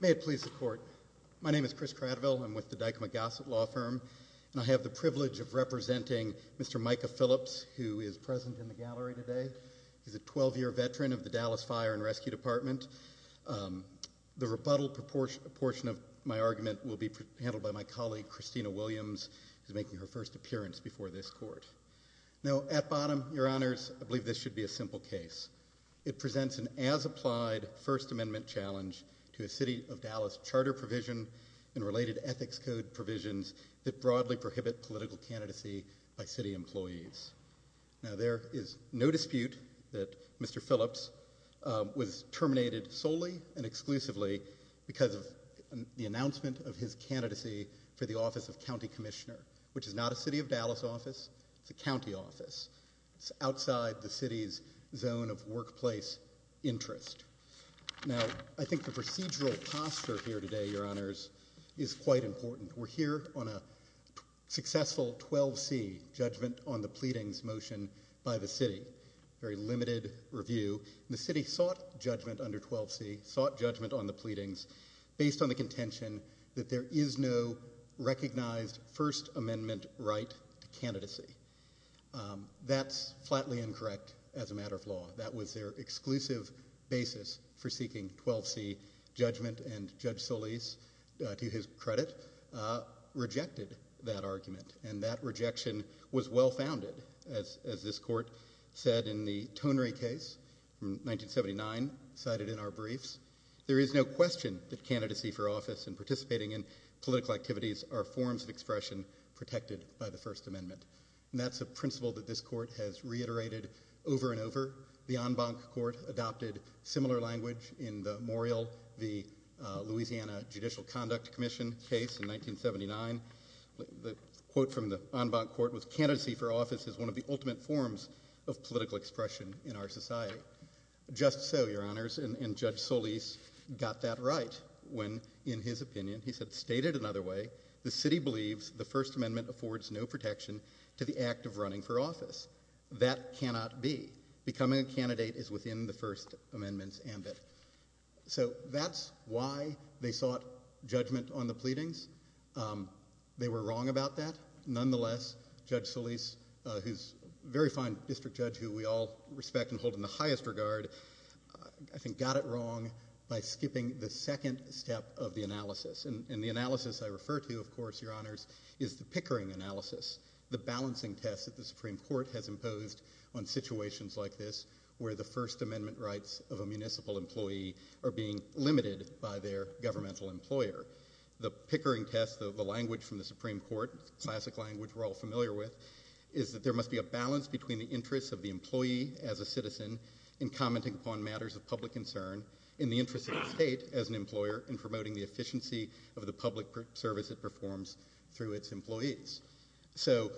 May it please the court. My name is Chris Cradville. I'm with the Dykema Gossett Law Firm and I have the privilege of representing Mr. Micah Phillips who is present in the gallery today. He's a 12-year veteran of the Dallas Fire and Rescue Department. The rebuttal portion of my argument will be handled by my colleague Christina Williams who is making her first appearance before this court. Now at bottom, your honors, I believe this should be a simple case. It presents an as-applied First Amendment challenge to a City of Dallas charter provision and related ethics code provisions that broadly prohibit political candidacy by city employees. Now there is no dispute that Mr. Phillips was terminated solely and exclusively because of the announcement of his candidacy for the office of County Commissioner, which is not a City of Dallas office. It's a county office. It's outside the city's zone of workplace interest. Now I think the procedural posture here today, your honors, is quite important. We're here on a successful 12c judgment on the pleadings motion by the city. Very limited review. The city sought judgment under 12c, sought judgment on the pleadings based on the contention that there is no recognized First Amendment right to candidacy. That's flatly incorrect as a matter of law. That was their exclusive basis for seeking 12c judgment and Judge Solis, to his credit, rejected that argument and that rejection was well-founded as this court said in the tonery case from 1979 cited in our briefs there is no question that candidacy for office and participating in political activities are forms of expression protected by the First Amendment. That's a principle that this court has reiterated over and over. The en banc court adopted similar language in the Morrill v. Louisiana Judicial Conduct Commission case in 1979. The quote from the en banc court was candidacy for office is one of the ultimate forms of political expression in our society. Just so, and Judge Solis got that right when in his opinion he said stated another way, the city believes the First Amendment affords no protection to the act of running for office. That cannot be. Becoming a candidate is within the First Amendment's ambit. So that's why they sought judgment on the pleadings. They were wrong about that. Nonetheless, Judge Solis, very fine district judge who we all respect and hold in the highest regard, I think got it wrong by skipping the second step of the analysis. The analysis I refer to, of course, your honors, is the pickering analysis, the balancing test that the Supreme Court has imposed on situations like this where the First Amendment rights of a municipal employee are being limited by their governmental employer. The pickering test, the language from the Supreme Court, classic language we're all familiar with, is that there must be a balance between the interests of the employee as a citizen in commenting upon matters of public concern in the interest of the state as an employer in promoting the efficiency of the public service it performs through its employees. So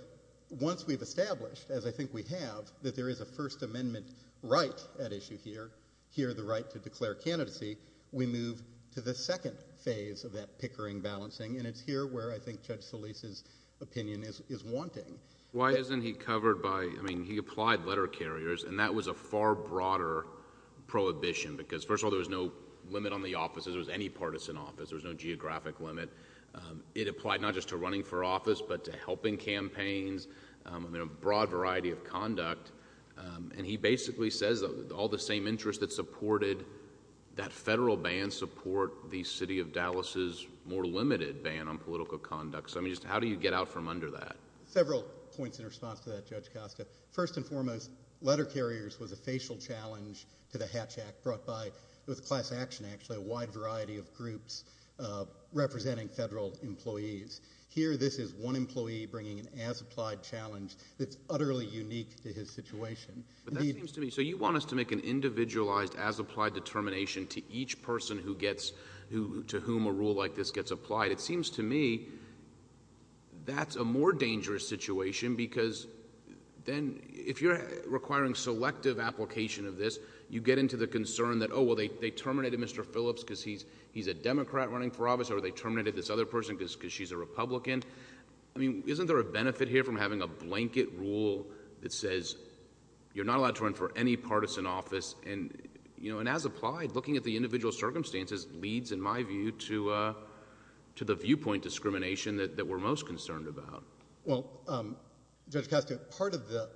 once we've established, as I think we have, that there is a First Amendment right at issue here, here the right to declare candidacy, we move to the second phase of that pickering balancing and it's here where I think Judge Solis's opinion is wanting. Why isn't he covered by, I mean, he applied letter carriers and that was a far broader prohibition because, first of all, there was no limit on the offices, there was any partisan office, there was no geographic limit. It applied not just to running for office but to helping campaigns. I mean, a broad variety of conduct and he basically says that all the same interests that supported that federal ban support the city of Dallas's more political conduct. So, I mean, just how do you get out from under that? Several points in response to that, Judge Costa. First and foremost, letter carriers was a facial challenge to the Hatch Act brought by, it was class action, actually, a wide variety of groups representing federal employees. Here, this is one employee bringing an as-applied challenge that's utterly unique to his situation. But that seems to me, so you want us to make an individualized as-applied determination to each person who gets, to whom a rule like this gets applied. It seems to me that's a more dangerous situation because then if you're requiring selective application of this, you get into the concern that, oh, well, they terminated Mr. Phillips because he's a Democrat running for office or they terminated this other person because she's a Republican. I mean, isn't there a benefit here from having a blanket rule that says you're not allowed to run for any partisan office and, you know, and as circumstances leads, in my view, to the viewpoint discrimination that we're most concerned about. Well, Judge Costa, part of the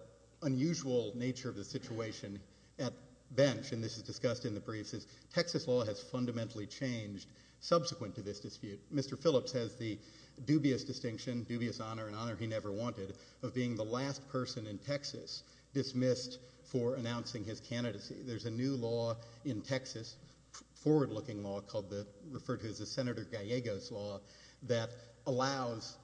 unusual nature of the situation at bench, and this is discussed in the briefs, is Texas law has fundamentally changed subsequent to this dispute. Mr. Phillips has the dubious distinction, dubious honor, an honor he never wanted, of being the last person in Texas dismissed for announcing his candidacy. There's a new law in Texas, forward-looking law, called the, referred to as the Senator Gallego's law, that allows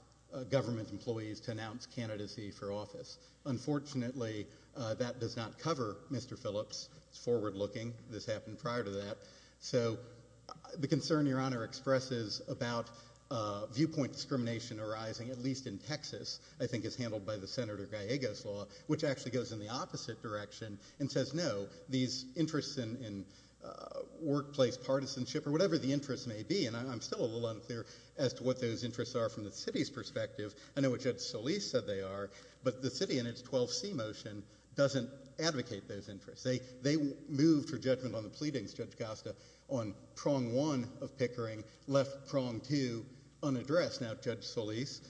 government employees to announce candidacy for office. Unfortunately, that does not cover Mr. Phillips. It's forward-looking. This happened prior to that, so the concern your honor expresses about viewpoint discrimination arising, at least in Texas, I think is handled by the Senator Gallego's law, which actually goes in the opposite direction and says, no, these interests in workplace partisanship or whatever the interest may be, and I'm still a little unclear as to what those interests are from the city's perspective. I know what Judge Solis said they are, but the city in its 12C motion doesn't advocate those interests. They moved for judgment on the pleadings, Judge Costa, on prong one of Pickering, left prong two unaddressed. Now, Judge Solis,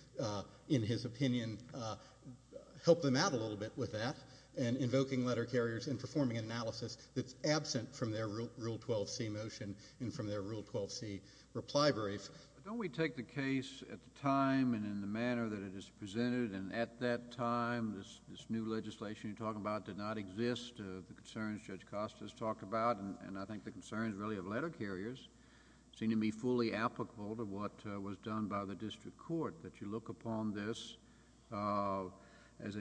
in his opinion, helped them out a little bit with that in invoking letter carriers and performing analysis that's absent from their Rule 12C motion and from their Rule 12C reply brief. Don't we take the case at the time and in the manner that it is presented, and at that time, this new legislation you're talking about did not exist, the concerns Judge Costa has talked about, and I think the concerns really of letter carriers seem to be fully applicable to what was done by the District Court, that you look upon this as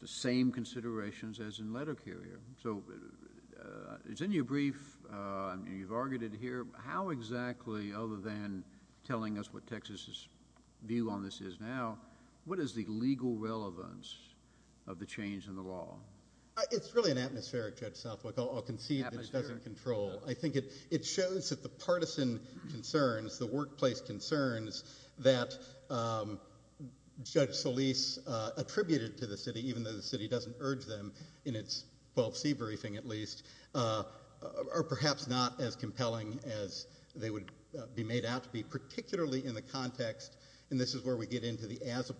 the same considerations as in letter carrier. So it's in your brief. You've argued it here. How exactly, other than telling us what Texas's view on this is now, what is the legal relevance of the change in the law? It's really an atmospheric, Judge Southwick. I'll concede that it doesn't control. I think it shows that the partisan concerns, the workplace concerns that Judge Solis attributed to the city, even though the city doesn't urge them in its 12C briefing at least, are perhaps not as compelling as they would be made out to be, particularly in the context, and this is where we get into the as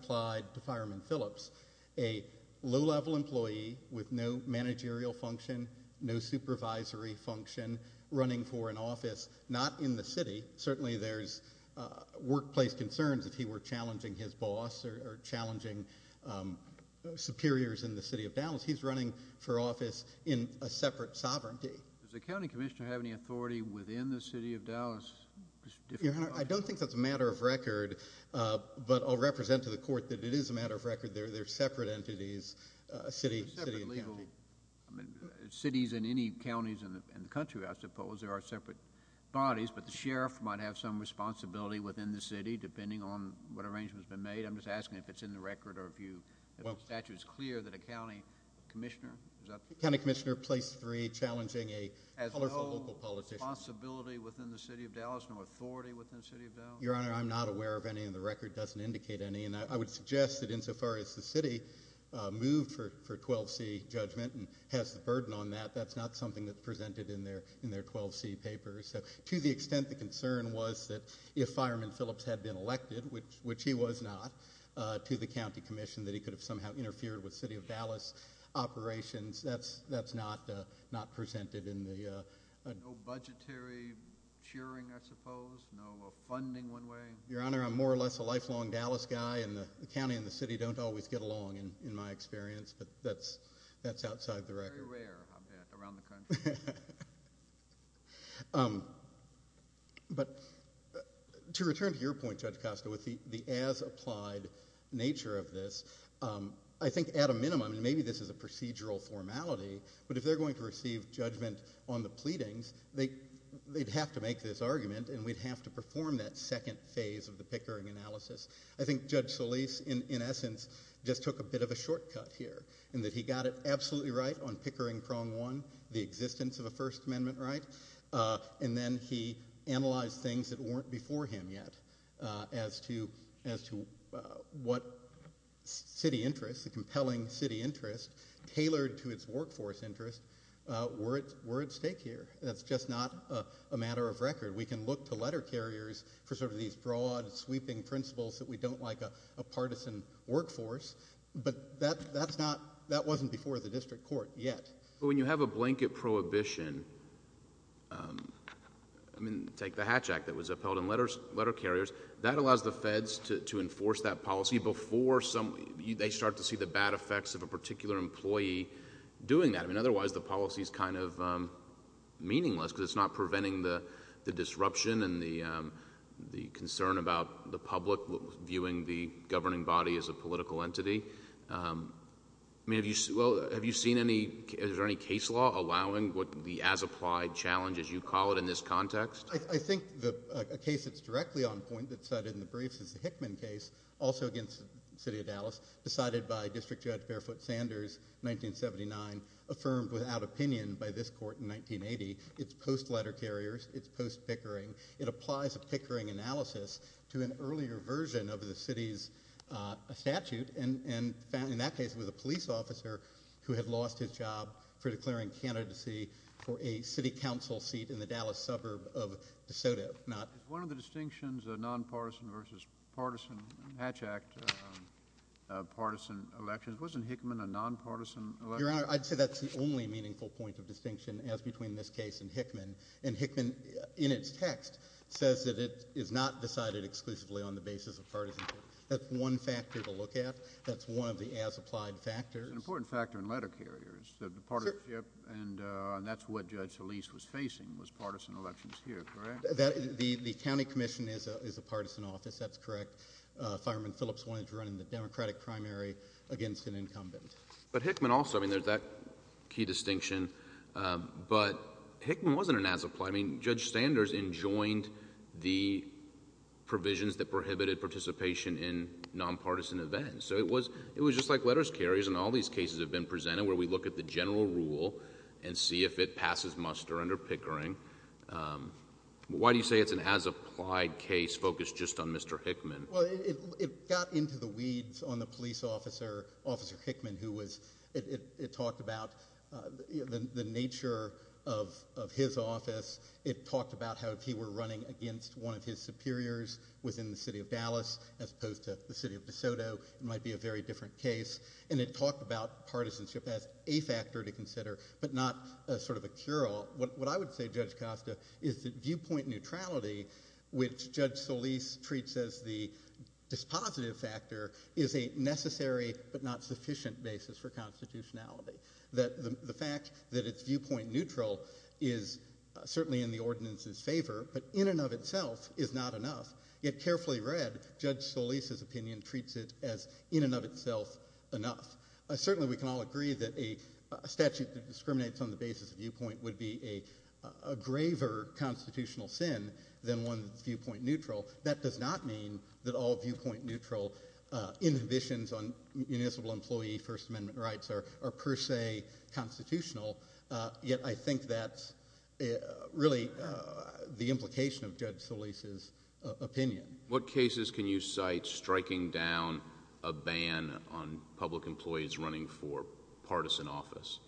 with no managerial function, no supervisory function, running for an office, not in the city. Certainly there's workplace concerns if he were challenging his boss or challenging superiors in the city of Dallas. He's running for office in a separate sovereignty. Does the county commissioner have any authority within the city of Dallas? Your Honor, I don't think that's a matter of record, but I'll represent to the court that it is a matter of record. They're separate entities, city and county. Cities and any counties in the country, I suppose, there are separate bodies, but the sheriff might have some responsibility within the city, depending on what arrangement has been made. I'm just asking if it's in the record or if the statute is clear that a county commissioner is up to the task. A county commissioner placed three, challenging a colorful local politician. Has no responsibility within the city of Dallas, no authority within the city of Dallas? Your Honor, I'm not aware of any, and the record doesn't indicate any. I would suggest that insofar as the city moved for 12C judgment and has the burden on that, that's not something that's presented in their 12C papers. To the extent the concern was that if Fireman Phillips had been elected, which he was not, to the county commission that he could have somehow interfered with city of Dallas operations, that's not presented in the... No budgetary cheering, I suppose? No funding one way? Your Honor, I'm more or less a lifelong Dallas guy, and the county and the city don't always get along, in my experience, but that's outside the record. Very rare, I'll bet, around the country. But to return to your point, Judge Costa, with the as-applied nature of this, I think at a minimum, and maybe this is a procedural formality, but if they're going to receive judgment on the pleadings, they'd have to make this argument, and we'd have to perform that second phase of the Pickering analysis. I think Judge Solis, in essence, just took a bit of a shortcut here, in that he got it absolutely right on Pickering Prong 1, the existence of a First Amendment right, and then he analyzed things that weren't before him yet as to what city interests, the compelling city interest, tailored to its workforce interest, were at stake here. That's just not a matter of record. We can look to letter carriers for sort of these broad, sweeping principles that we don't like a partisan workforce, but that wasn't before the district court yet. When you have a blanket prohibition, take the Hatch Act that was upheld in letter carriers, that allows the feds to enforce that policy before they start to see the bad effects of a particular employee doing that. Otherwise, the policy is kind of meaningless because it's not preventing the disruption and the concern about the public viewing the governing body as a political entity. Have you seen any, is there any case law allowing the as-applied challenge, as you call it, in this context? I think a case that's directly on point that's cited in the briefs is the Hickman case, also against the city of Dallas, decided by District Judge Barefoot Sanders, 1979, affirmed without opinion by this court in 1980. It's post-letter carriers. It's post-Pickering. It applies a Pickering analysis to an earlier version of the city's statute, and in that case it was a police officer who had lost his job for declaring candidacy for a city council seat in the Dallas suburb of DeSoto. One of the distinctions of nonpartisan versus partisan Hatch Act partisan elections, wasn't Hickman a nonpartisan election? Your Honor, I'd say that's the only meaningful point of distinction as between this case and Hickman, and Hickman in its text says that it is not decided exclusively on the basis of partisanship. That's one factor to look at. That's one of the as-applied factors. It's an important factor in letter carriers, the partisanship, and that's what Judge Solis was facing was partisan elections here, correct? The county commission is a partisan office. That's correct. Fireman Phillips wanted to run in the Democratic primary against an incumbent. But Hickman also. I mean, there's that key distinction, but Hickman wasn't an as-applied. I mean, Judge Sanders enjoined the provisions that prohibited participation in nonpartisan events, so it was just like letters carriers, and all these cases have been presented where we look at the general rule and see if it passes muster under Pickering. Why do you say it's an as-applied case focused just on Mr. Hickman? Well, it got into the weeds on the police officer, Officer Hickman, who was, it talked about the nature of his office. It talked about how if he were running against one of his superiors within the city of Dallas as opposed to the city of DeSoto, it might be a very different case, and it talked about partisanship as a factor to consider but not sort of a cure-all. What I would say, Judge Costa, is that viewpoint neutrality, which Judge Solis treats as the dispositive factor, is a necessary but not sufficient basis for constitutionality, that the fact that it's viewpoint neutral is certainly in the ordinance's favor, but in and of itself is not enough. Yet carefully read, Judge Solis's opinion treats it as in and of itself enough. Certainly we can all agree that a statute that discriminates on the basis of viewpoint would be a graver constitutional sin than one that's viewpoint neutral. That does not mean that all viewpoint neutral inhibitions on municipal employee First Amendment rights are per se constitutional, yet I think that's really the implication of Judge Solis's opinion. What cases can you cite striking down a ban on public employees running for partisan office?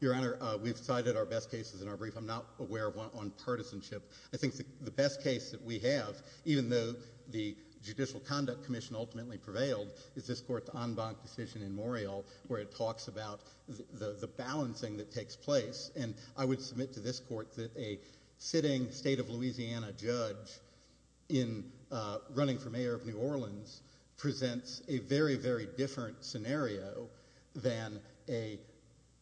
Your Honor, we've cited our best cases in our brief. I'm not aware of one on partisanship. I think the best case that we have, even though the Judicial Conduct Commission ultimately prevailed, is this court's en banc decision in Morial where it talks about the balancing that takes place. I would submit to this court that a sitting state of Louisiana judge running for mayor of New Orleans presents a very, very different scenario than a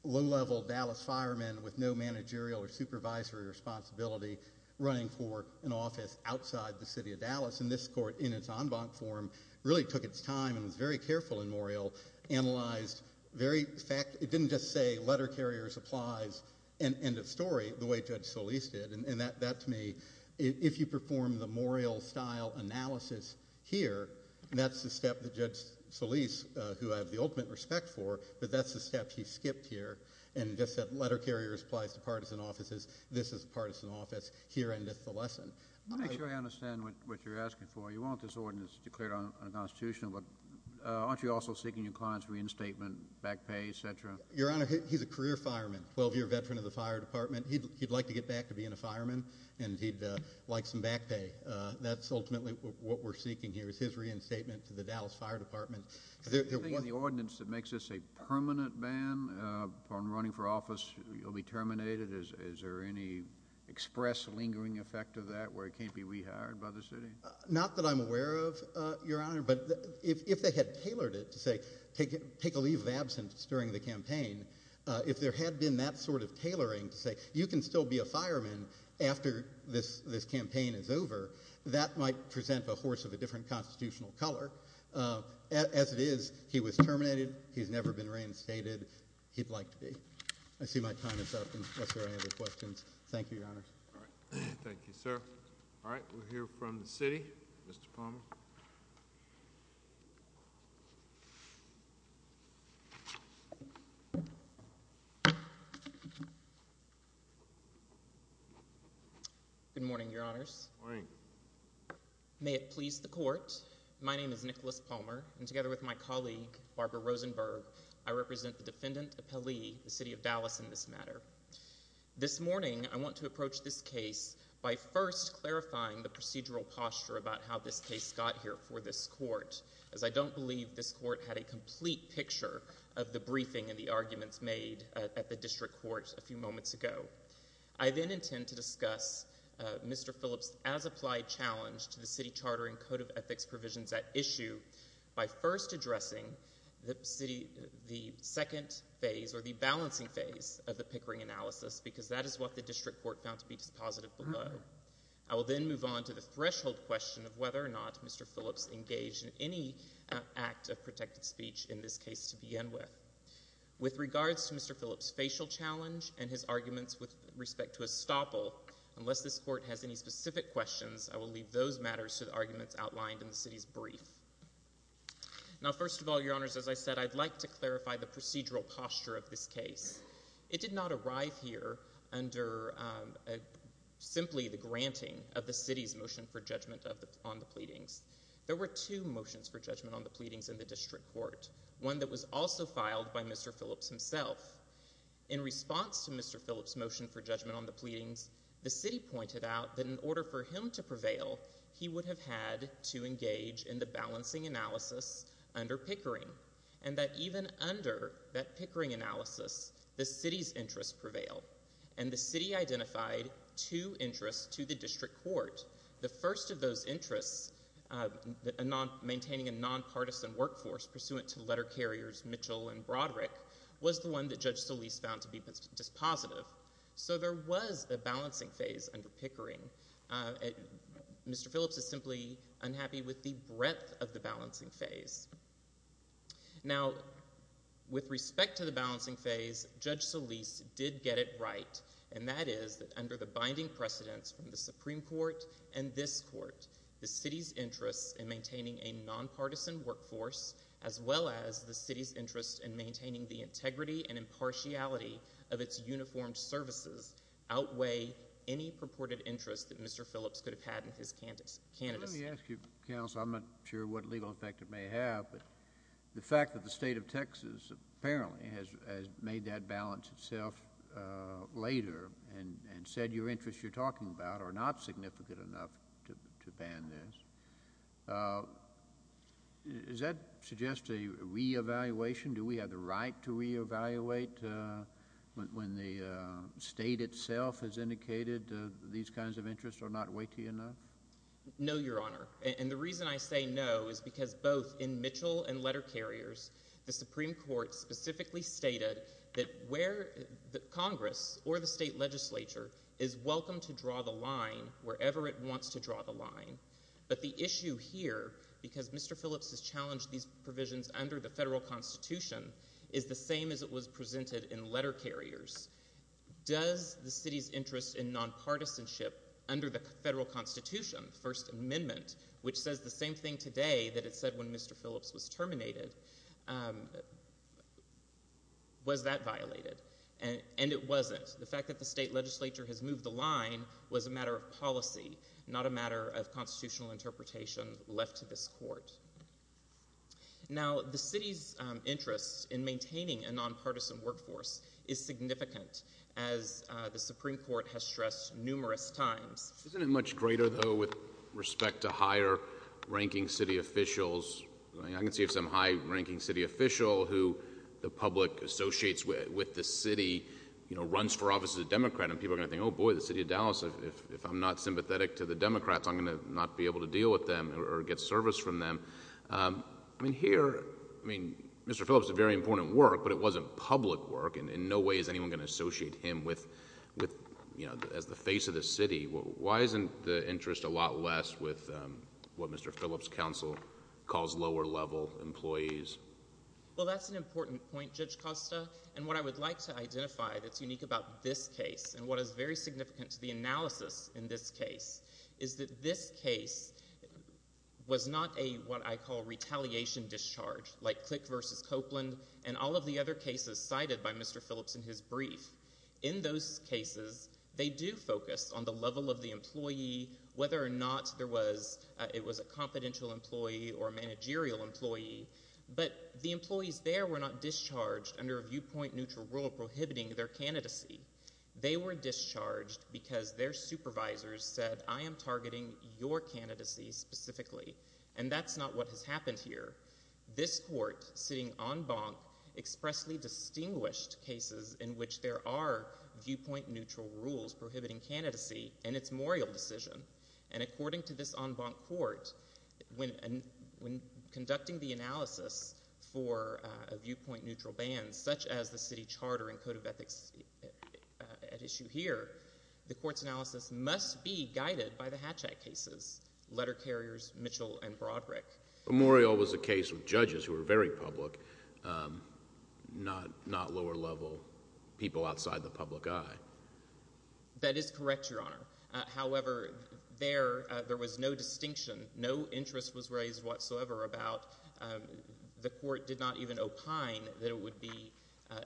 low-level Dallas fireman with no managerial or supervisory responsibility running for an office outside the city of Dallas. And this court, in its en banc form, really took its time and was very careful in Morial, analyzed very fact—it didn't just say letter carriers applies and end of story the way Judge Solis did. And that, to me, if you perform the Morial-style analysis here, that's the step that Judge Solis, who I have the ultimate respect for, but that's the step he skipped here and just said letter carriers applies to partisan offices, Let me make sure I understand what you're asking for. You want this ordinance declared unconstitutional, but aren't you also seeking your client's reinstatement, back pay, etc.? Your Honor, he's a career fireman, 12-year veteran of the fire department. He'd like to get back to being a fireman, and he'd like some back pay. That's ultimately what we're seeking here is his reinstatement to the Dallas Fire Department. Is there anything in the ordinance that makes this a permanent ban on running for office? You'll be terminated. Is there any express lingering effect of that where he can't be rehired by the city? Not that I'm aware of, Your Honor, but if they had tailored it to say take a leave of absence during the campaign, if there had been that sort of tailoring to say you can still be a fireman after this campaign is over, that might present a horse of a different constitutional color. As it is, he was terminated. He's never been reinstated. He'd like to be. I see my time is up unless there are any other questions. Thank you, Your Honor. All right. Thank you, sir. All right. We'll hear from the city. Mr. Palmer. Good morning, Your Honors. Good morning. May it please the Court, my name is Nicholas Palmer, and together with my colleague, Barbara Rosenberg, I represent the Defendant Appellee, the City of Dallas in this matter. This morning, I want to approach this case by first clarifying the procedural posture about how this case got here for this Court, as I don't believe this Court had a complete picture of the briefing and the arguments made at the District Court a few moments ago. I then intend to discuss Mr. Phillips' as-applied challenge to the City Charter and Code of Ethics provisions at issue by first addressing the second phase or the balancing phase of the Pickering analysis, because that is what the District Court found to be dispositive below. I will then move on to the threshold question of whether or not Mr. Phillips engaged in any act of protected speech in this case to begin with. With regards to Mr. Phillips' facial challenge and his arguments with respect to a stopple, unless this Court has any specific questions, I will leave those matters to the arguments outlined in the City's brief. Now, first of all, Your Honors, as I said, I'd like to clarify the procedural posture of this case. It did not arrive here under simply the granting of the City's motion for judgment on the pleadings. There were two motions for judgment on the pleadings in the District Court, one that was also filed by Mr. Phillips himself. In response to Mr. Phillips' motion for judgment on the pleadings, the City pointed out that in order for him to prevail, he would have had to engage in the balancing analysis under Pickering, and that even under that Pickering analysis, the City's interests prevailed, and the City identified two interests to the District Court. The first of those interests, maintaining a nonpartisan workforce pursuant to letter carriers Mitchell and Broderick, was the one that Judge Solis found to be dispositive. So there was a balancing phase under Pickering. Mr. Phillips is simply unhappy with the breadth of the balancing phase. Now, with respect to the balancing phase, Judge Solis did get it right, and that is that under the binding precedence from the Supreme Court and this Court, the City's interests in maintaining a nonpartisan workforce, as well as the City's interest in maintaining the integrity and impartiality of its uniformed services, outweigh any purported interest that Mr. Phillips could have had in his candidacy. Let me ask you, Counsel, I'm not sure what legal effect it may have, but the fact that the State of Texas apparently has made that balance itself later and said your interests you're talking about are not significant enough to ban this, does that suggest a reevaluation? Do we have the right to reevaluate when the State itself has indicated these kinds of interests are not weighty enough? No, Your Honor, and the reason I say no is because both in Mitchell and letter carriers, the Supreme Court specifically stated that Congress or the State Legislature is welcome to draw the line wherever it wants to draw the line, but the issue here, because Mr. Phillips has challenged these provisions under the Federal Constitution, is the same as it was presented in letter carriers. Does the City's interest in nonpartisanship under the Federal Constitution, First Amendment, which says the same thing today that it said when Mr. Phillips was terminated, was that violated? And it wasn't. The fact that the State Legislature has moved the line was a matter of policy, not a matter of constitutional interpretation left to this Court. Now, the City's interest in maintaining a nonpartisan workforce is significant, as the Supreme Court has stressed numerous times. Isn't it much greater, though, with respect to higher-ranking City officials? I mean, I can see if some high-ranking City official who the public associates with the City, you know, runs for office as a Democrat, and people are going to think, oh boy, the City of Dallas, if I'm not sympathetic to the Democrats, I'm going to not be able to deal with them or get service from them. I mean, here, I mean, Mr. Phillips did very important work, but it wasn't public work, and in no way is anyone going to associate him with, you know, as the face of the City. Why isn't the interest a lot less with what Mr. Phillips' counsel calls lower-level employees? Well, that's an important point, Judge Costa, and what I would like to identify that's unique about this case and what is very significant to the analysis in this case is that this case was not a, what I call, retaliation discharge, like Click v. Copeland and all of the other cases cited by Mr. Phillips in his brief. In those cases, they do focus on the level of the employee, whether or not there was, it was a confidential employee or a managerial employee, but the employees there were not discharged under a viewpoint-neutral rule prohibiting their candidacy. They were discharged because their supervisors said, I am targeting your candidacy specifically, and that's not what has happened here. This Court, sitting en banc, expressly distinguished cases in which there are viewpoint-neutral rules prohibiting candidacy in its Morial decision, and according to this en banc Court, when conducting the analysis for a viewpoint-neutral ban, such as the City Charter and Code of Ethics at issue here, the Court's analysis must be guided by the Hatch Act cases, Letter Carriers, Mitchell, and Broderick. But Morial was a case of judges who were very public, not lower-level people outside the public eye. That is correct, Your Honor. However, there was no distinction, no interest was raised whatsoever about the Court did not even opine that it would be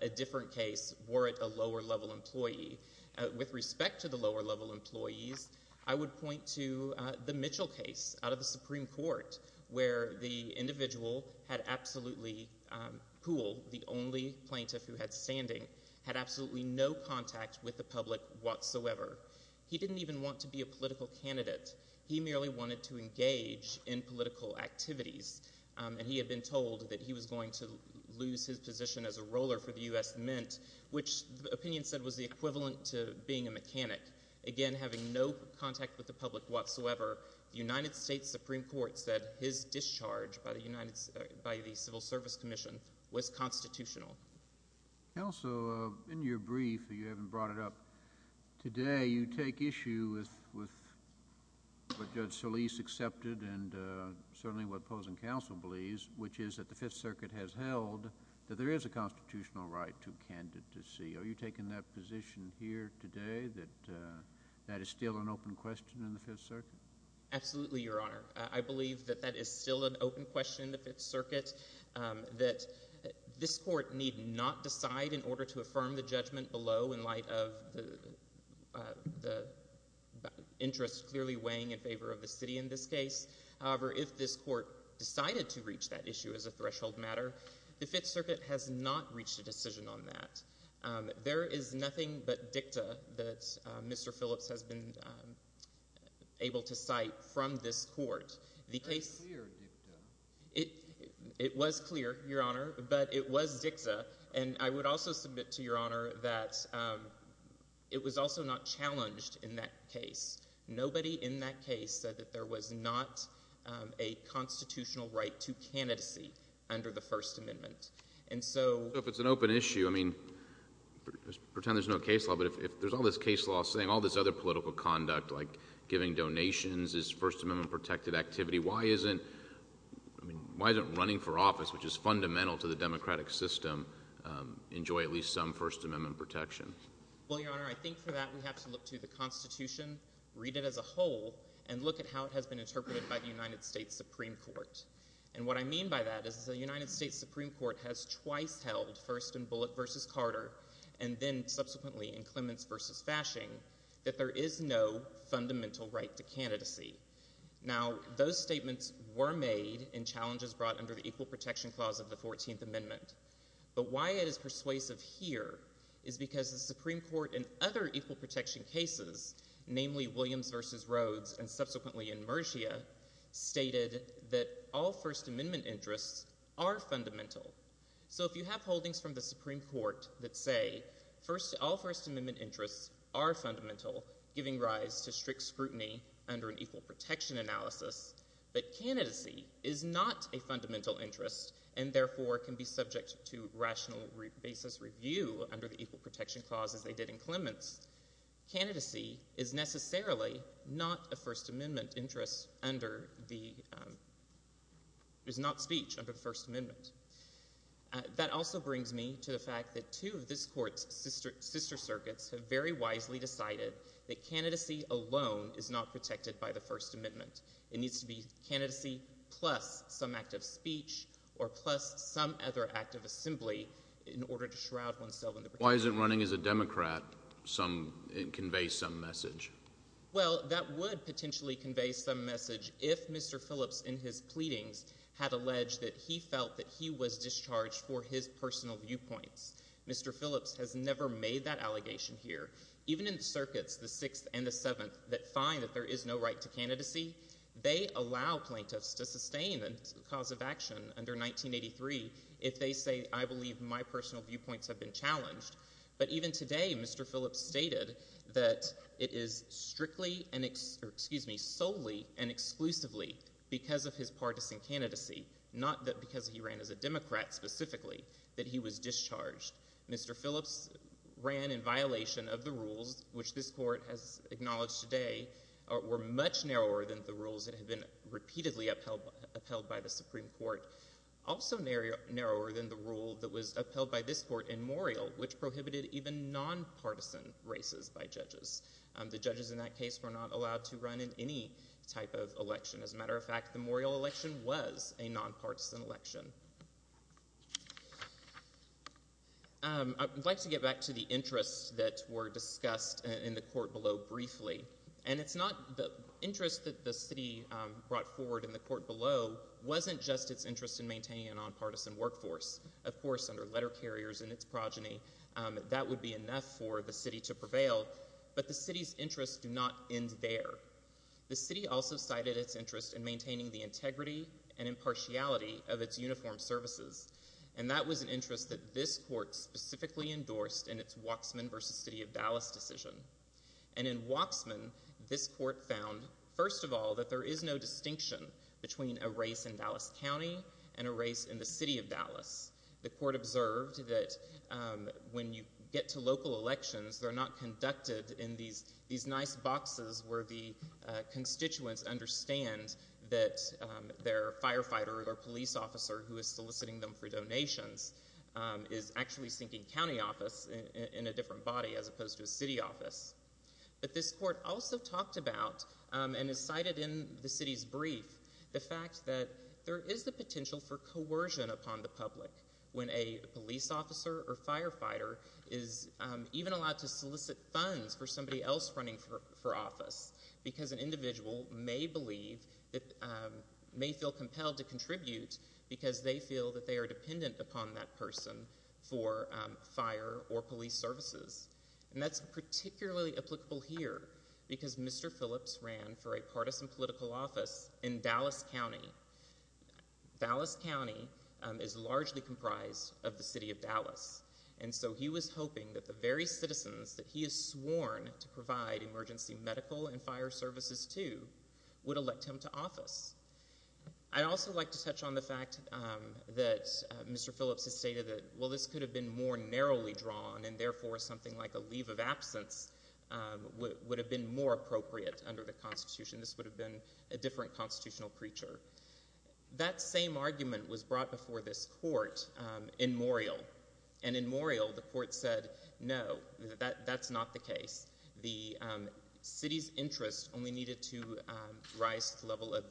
a different case were it a lower-level employee. With respect to the lower-level employees, I would point to the Mitchell case out of the Supreme Court where the individual had absolutely, Poole, the only plaintiff who had standing, had absolutely no contact with the public whatsoever. He didn't even want to be a political candidate. He merely wanted to engage in political activities, and he had been told that he was going to lose his position as a roller for the U.S. Mint, which the opinion said was the equivalent to being a mechanic. Again, having no contact with the public whatsoever, the United States Supreme Court said his discharge by the Civil Service Commission was constitutional. Counsel, in your brief, you haven't brought it up, today you take issue with what Judge Solis accepted and certainly what opposing counsel believes, which is that the Fifth Circuit has held that there is a constitutional right to candidacy. Are you taking that position here today that that is still an open question in the Fifth Circuit? Absolutely, Your Honor. I believe that that is still an open question in the Fifth Circuit, that this Court need not decide in order to affirm the judgment below in light of the interests clearly weighing in favor of the city in this case. However, if this Court decided to reach that issue as a threshold matter, the Fifth Circuit has not reached a decision on that. There is nothing but dicta that Mr. Phillips has been able to cite from this Court. It was clear, dicta. It was clear, Your Honor, but it was dicta, and I would also submit to Your Honor that it was also not challenged in that case. Nobody in that case said that there was not a constitutional right to candidacy under the First Amendment. And so— So if it's an open issue, I mean, pretend there's no case law, but if there's all this case law saying all this other political conduct, like giving donations is First Amendment-protected activity, why isn't running for office, which is fundamental to the democratic system, enjoy at least some First Amendment protection? Well, Your Honor, I think for that we have to look to the Constitution, read it as a whole, and look at how it has been interpreted by the United States Supreme Court. And what I mean by that is the United States Supreme Court has twice held, first in Bullitt v. Carter and then subsequently in Clements v. Fashing, that there is no fundamental right to candidacy. Now, those statements were made in challenges brought under the Equal Protection Clause of the Fourteenth Amendment. But why it is persuasive here is because the Supreme Court in other equal protection cases, namely Williams v. Rhodes and subsequently in Mergia, stated that all First Amendment interests are fundamental. So if you have holdings from the Supreme Court that say all First Amendment interests are fundamental, giving rise to strict scrutiny under an equal protection analysis, but candidacy is not a fundamental interest and therefore can be subject to rational basis review under the Equal Protection Clause as they did in Clements, candidacy is necessarily not a First Amendment interest under the—is not speech under the First Amendment. That also brings me to the fact that two of this Court's sister circuits have very wisely decided that candidacy alone is not protected by the First Amendment. It needs to be candidacy plus some act of speech or plus some other act of assembly in order to shroud oneself in the— Why isn't running as a Democrat some—convey some message? Well, that would potentially convey some message if Mr. Phillips in his pleadings had alleged that he felt that he was discharged for his personal viewpoints. Mr. Phillips has never made that allegation here. Even in the circuits, the Sixth and the Seventh, that find that there is no right to candidacy, they allow plaintiffs to sustain a cause of action under 1983 if they say, I believe my personal viewpoints have been challenged. But even today, Mr. Phillips stated that it is strictly and—excuse me, solely and exclusively because of his partisan candidacy, not because he ran as a Democrat specifically, that he was discharged. Mr. Phillips ran in violation of the rules, which this Court has acknowledged today, were much narrower than the rules that had been repeatedly upheld by the Supreme Court, also narrower than the rule that was upheld by this Court in Morial, which prohibited even nonpartisan races by judges. The judges in that case were not allowed to run in any type of election. As a matter of fact, the Morial election was a nonpartisan election. I'd like to get back to the interests that were discussed in the Court below briefly. And it's not—the interest that the City brought forward in the Court below wasn't just its interest in maintaining a nonpartisan workforce. Of course, under letter carriers and its progeny, that would be enough for the City to prevail, but the City's interests do not end there. The City also cited its interest in maintaining the integrity and impartiality of its uniformed services, and that was an interest that this Court specifically endorsed in its Waxman v. City of Dallas decision. And in Waxman, this Court found, first of all, that there is no distinction between a race in Dallas County and a race in the City of Dallas. The Court observed that when you get to local elections, they're not conducted in these nice boxes where the constituents understand that their firefighter or police officer who is soliciting them for donations is actually seeking county office in a different body as opposed to city office. But this Court also talked about and has cited in the City's brief the fact that there is the potential for coercion upon the public when a police officer or firefighter is even allowed to solicit funds for somebody else running for office because an individual may feel compelled to contribute because they feel that they are dependent upon that person for fire or police services. And that's particularly applicable here because Mr. Phillips ran for a partisan political office in Dallas County. Dallas County is largely comprised of the City of Dallas. And so he was hoping that the very citizens that he has sworn to provide emergency medical and fire services to would elect him to office. I'd also like to touch on the fact that Mr. Phillips has stated that, well, this could have been more narrowly drawn and therefore something like a leave of absence would have been more appropriate under the Constitution. This would have been a different constitutional preacher. That same argument was brought before this Court in Morial. And in Morial, the Court said, no, that's not the case. The City's interest only needed to rise to the level of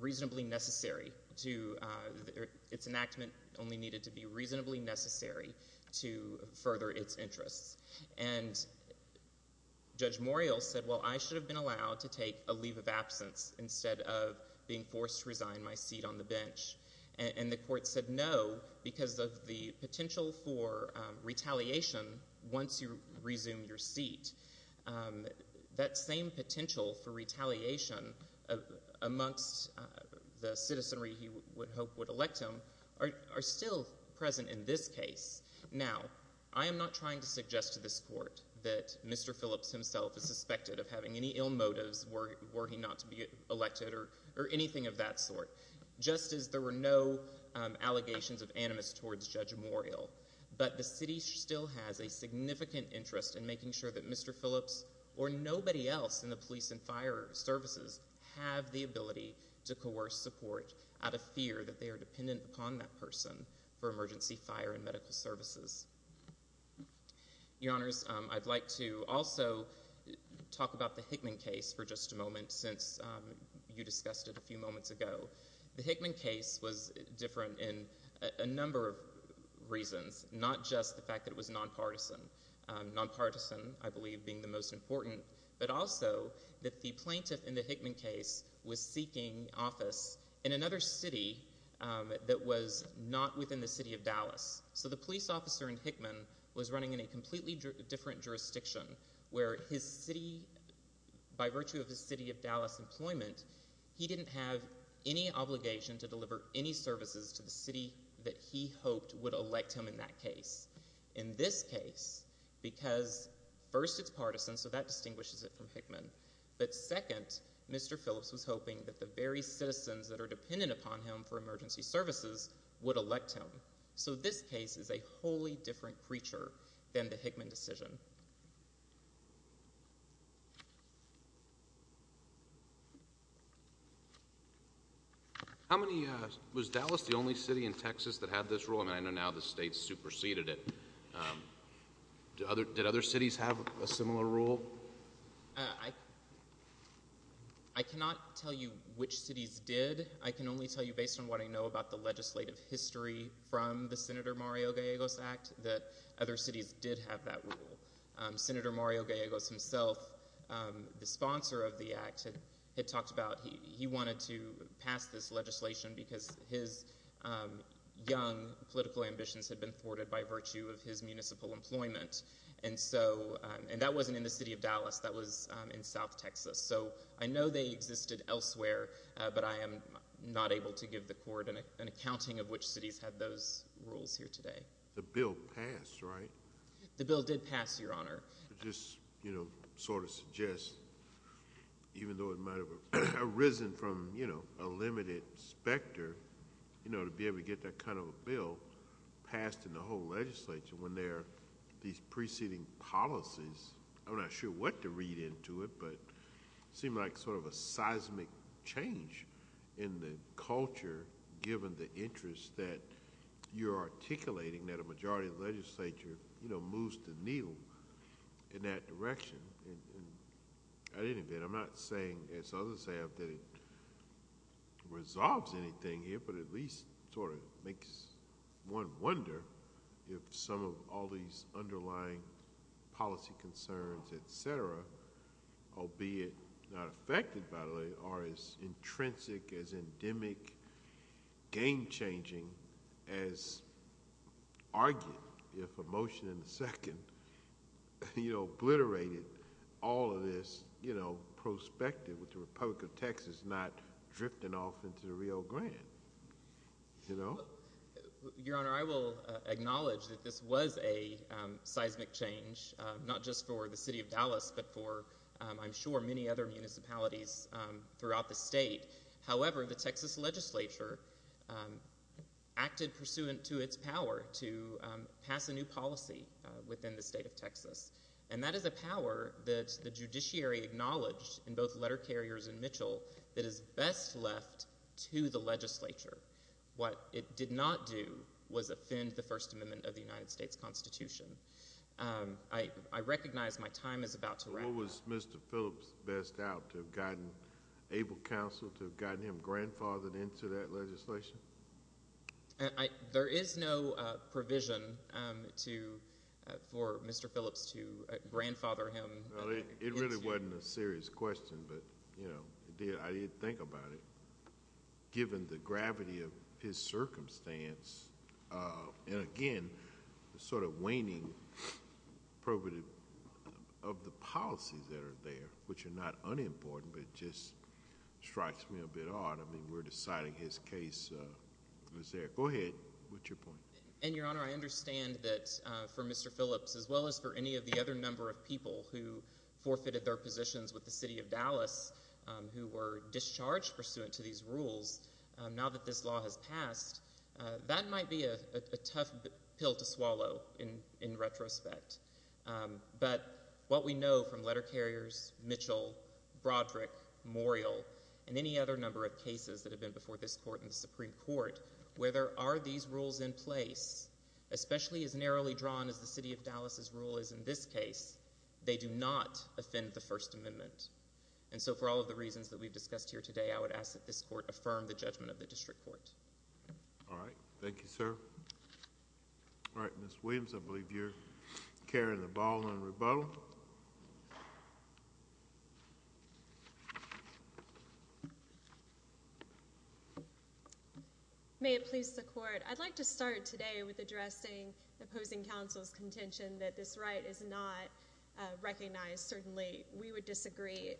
reasonably necessary to its enactment only needed to be reasonably necessary to further its interests. And Judge Morial said, well, I should have been allowed to take a leave of absence instead of being forced to resign my seat on the bench. And the Court said no because of the potential for retaliation once you resume your seat. That same potential for retaliation amongst the citizenry he would hope would elect him are still present in this case. Now, I am not trying to suggest to this Court that Mr. Phillips himself is suspected of having any ill motives were he not to be elected or anything of that sort, just as there were no allegations of animus towards Judge Morial. But the City still has a significant interest in making sure that Mr. Phillips or nobody else in the police and fire services have the ability to coerce the Court out of fear that they are dependent upon that person for emergency fire and medical services. Your Honors, I'd like to also talk about the Hickman case for just a moment since you discussed it a few moments ago. The Hickman case was different in a number of reasons, not just the fact that it was nonpartisan, nonpartisan, I believe, being the most important, but also that the plaintiff in the Hickman case was seeking office in another city that was not within the City of Dallas. So the police officer in Hickman was running in a completely different jurisdiction where his city, by virtue of the City of Dallas employment, he didn't have any obligation to deliver any services to the city that he hoped would elect him in that case. In this case, because first it's partisan, so that distinguishes it from Hickman, but second, Mr. Phillips was hoping that the very citizens that are dependent upon him for emergency services would elect him. So this case is a wholly different creature than the Hickman decision. How many—was Dallas the only city in Texas that had this rule? And I know now the state superseded it. Did other cities have a similar rule? I cannot tell you which cities did. I can only tell you based on what I know about the legislative history from the Senator Mario Gallegos Act that other cities did have that rule. Senator Mario Gallegos himself, the sponsor of the Act, had talked about— he wanted to pass this legislation because his young political ambitions had been thwarted by virtue of his municipal employment. And so—and that wasn't in the City of Dallas. That was in South Texas. So I know they existed elsewhere, but I am not able to give the Court an accounting of which cities had those rules here today. The bill passed, right? The bill did pass, Your Honor. It just sort of suggests, even though it might have arisen from a limited specter, to be able to get that kind of a bill passed in the whole legislature when there are these preceding policies. I'm not sure what to read into it, but it seemed like sort of a seismic change in the culture given the interest that you're articulating that a majority of the legislature, you know, moves to kneel in that direction. And at any event, I'm not saying, as others have, that it resolves anything here, but at least sort of makes one wonder if some of all these underlying policy concerns, etc., albeit not affected by the way, are as intrinsic, as endemic, game-changing, as argued if a motion in the second, you know, obliterated all of this, you know, prospective with the Republic of Texas not drifting off into the Rio Grande, you know? Your Honor, I will acknowledge that this was a seismic change, not just for the city of Dallas, but for, I'm sure, many other municipalities throughout the state. However, the Texas legislature acted pursuant to its power to pass a new policy within the state of Texas. And that is a power that the judiciary acknowledged in both Letter Carriers and Mitchell that is best left to the legislature. What it did not do was offend the First Amendment of the United States Constitution. I recognize my time is about to run out. What was Mr. Phillips best out to have gotten able counsel to have gotten him grandfathered into that legislation? There is no provision for Mr. Phillips to grandfather him. It really wasn't a serious question, but, you know, I did think about it. Given the gravity of his circumstance, and, again, the sort of waning probability of the policies that are there, which are not unimportant, but it just strikes me a bit odd. I mean, we're deciding his case was there. Go ahead with your point. And, Your Honor, I understand that for Mr. Phillips, as well as for any of the other number of people who forfeited their positions with the city of Dallas, who were discharged pursuant to these rules, now that this law has passed, that might be a tough pill to swallow in retrospect. But what we know from Letter Carriers, Mitchell, Broderick, Morial, and any other number of cases that have been before this court and the Supreme Court, where there are these rules in place, especially as narrowly drawn as the city of Dallas' rule is in this case, they do not offend the First Amendment. And so for all of the reasons that we've discussed here today, I would ask that this court affirm the judgment of the district court. All right. Thank you, sir. All right, Ms. Williams, I believe you're carrying the ball in rebuttal. May it please the Court, I'd like to start today with addressing the opposing counsel's contention that this right is not recognized. Certainly we would disagree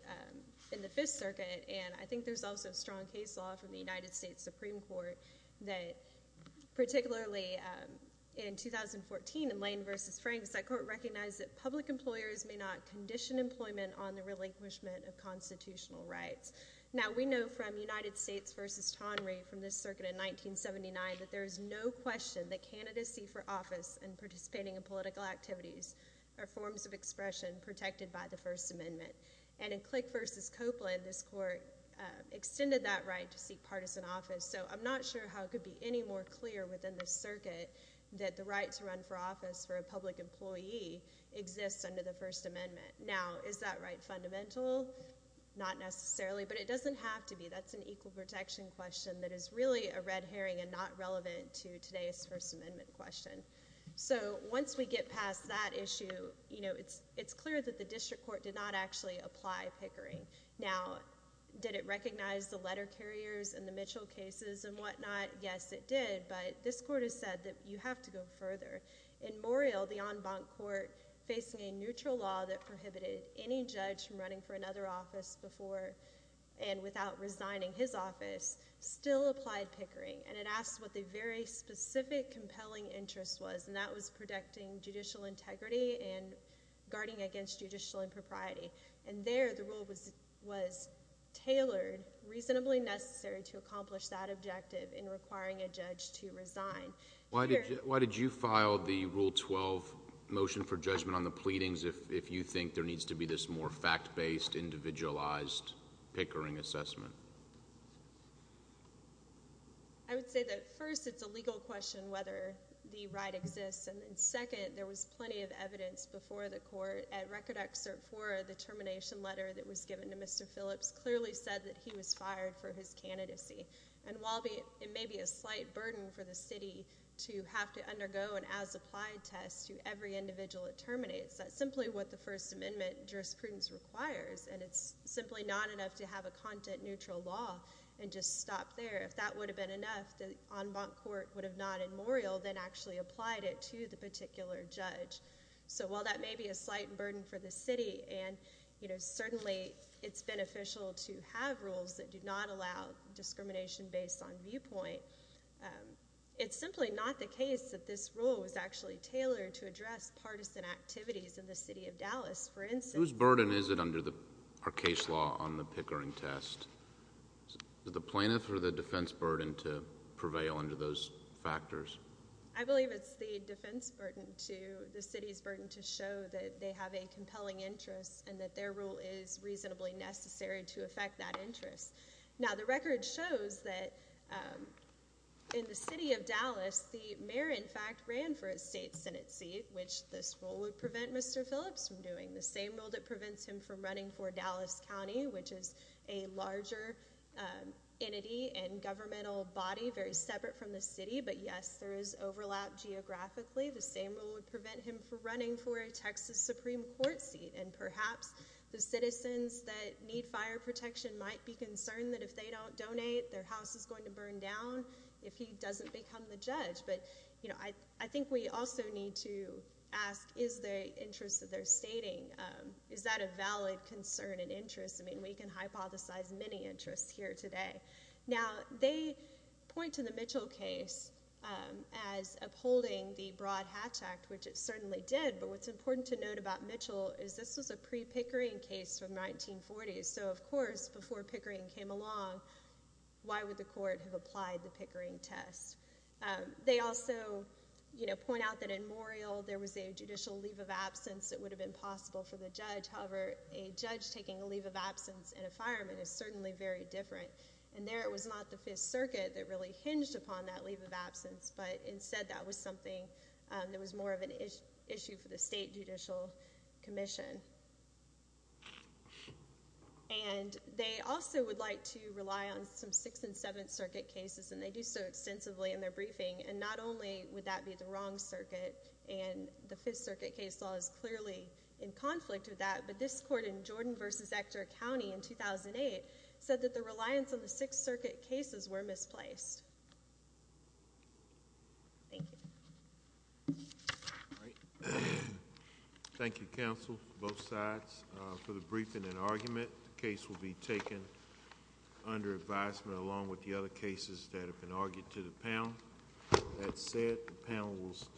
in the Fifth Circuit, and I think there's also strong case law from the United States Supreme Court that, particularly in 2014 in Lane v. Franks, that court recognized that public employers may not condition employment on the relinquishment of constitutional rights. Now, we know from United States v. Tonry, from this circuit in 1979, that there is no question that candidacy for office and participating in political activities are forms of expression protected by the First Amendment. And in Click v. Copeland, this court extended that right to seek partisan office, so I'm not sure how it could be any more clear within this circuit that the right to run for office for a public employee exists under the First Amendment. Now, is that right fundamental? Not necessarily, but it doesn't have to be. That's an equal protection question that is really a red herring and not relevant to today's First Amendment question. So once we get past that issue, you know, it's clear that the district court did not actually apply Pickering. Now, did it recognize the letter carriers and the Mitchell cases and whatnot? Yes, it did, but this court has said that you have to go further. In Morreale, the en banc court, facing a neutral law that prohibited any judge from running for another office before and without resigning his office, still applied Pickering, and it asked what the very specific compelling interest was, and that was protecting judicial integrity and guarding against judicial impropriety. And there the rule was tailored reasonably necessary to accomplish that objective in requiring a judge to resign. Why did you file the Rule 12 motion for judgment on the pleadings if you think there needs to be this more fact-based, individualized Pickering assessment? I would say that, first, it's a legal question whether the right exists, and then, second, there was plenty of evidence before the court. At Record Act Cert IV, the termination letter that was given to Mr. Phillips clearly said that he was fired for his candidacy. And while it may be a slight burden for the city to have to undergo an as-applied test to every individual it terminates, that's simply what the First Amendment jurisprudence requires, and it's simply not enough to have a content-neutral law and just stop there. If that would have been enough, the en banc court would have not in Morreale then actually applied it to the particular judge. So while that may be a slight burden for the city, and certainly it's beneficial to have rules that do not allow discrimination based on viewpoint, it's simply not the case that this rule was actually tailored to address partisan activities in the city of Dallas. Whose burden is it under our case law on the Pickering test? Is it the plaintiff or the defense burden to prevail under those factors? I believe it's the defense burden to the city's burden to show that they have a compelling interest and that their rule is reasonably necessary to affect that interest. Now the record shows that in the city of Dallas, the mayor in fact ran for a state senate seat, which this rule would prevent Mr. Phillips from doing. The same rule that prevents him from running for Dallas County, which is a larger entity and governmental body very separate from the city, but yes, there is overlap geographically. The same rule would prevent him from running for a Texas Supreme Court seat, and perhaps the citizens that need fire protection might be concerned that if they don't donate, their house is going to burn down if he doesn't become the judge. But I think we also need to ask, is the interest that they're stating, is that a valid concern and interest? I mean we can hypothesize many interests here today. Now they point to the Mitchell case as upholding the Broad-Hatch Act, which it certainly did, but what's important to note about Mitchell is this was a pre-Pickering case from the 1940s, so of course before Pickering came along, why would the court have applied the Pickering test? They also point out that in Morial there was a judicial leave of absence that would have been possible for the judge. However, a judge taking a leave of absence in a fireman is certainly very different, and there it was not the Fifth Circuit that really hinged upon that leave of absence, but instead that was something that was more of an issue for the state judicial commission. And they also would like to rely on some Sixth and Seventh Circuit cases, and they do so extensively in their briefing, and not only would that be the wrong circuit, and the Fifth Circuit case law is clearly in conflict with that, but this court in Jordan v. Ector County in 2008 said that the reliance on the Sixth Circuit cases were misplaced. Thank you. Thank you, counsel, both sides, for the briefing and argument. The case will be taken under advisement along with the other cases that have been argued to the panel. That said, the panel will stand.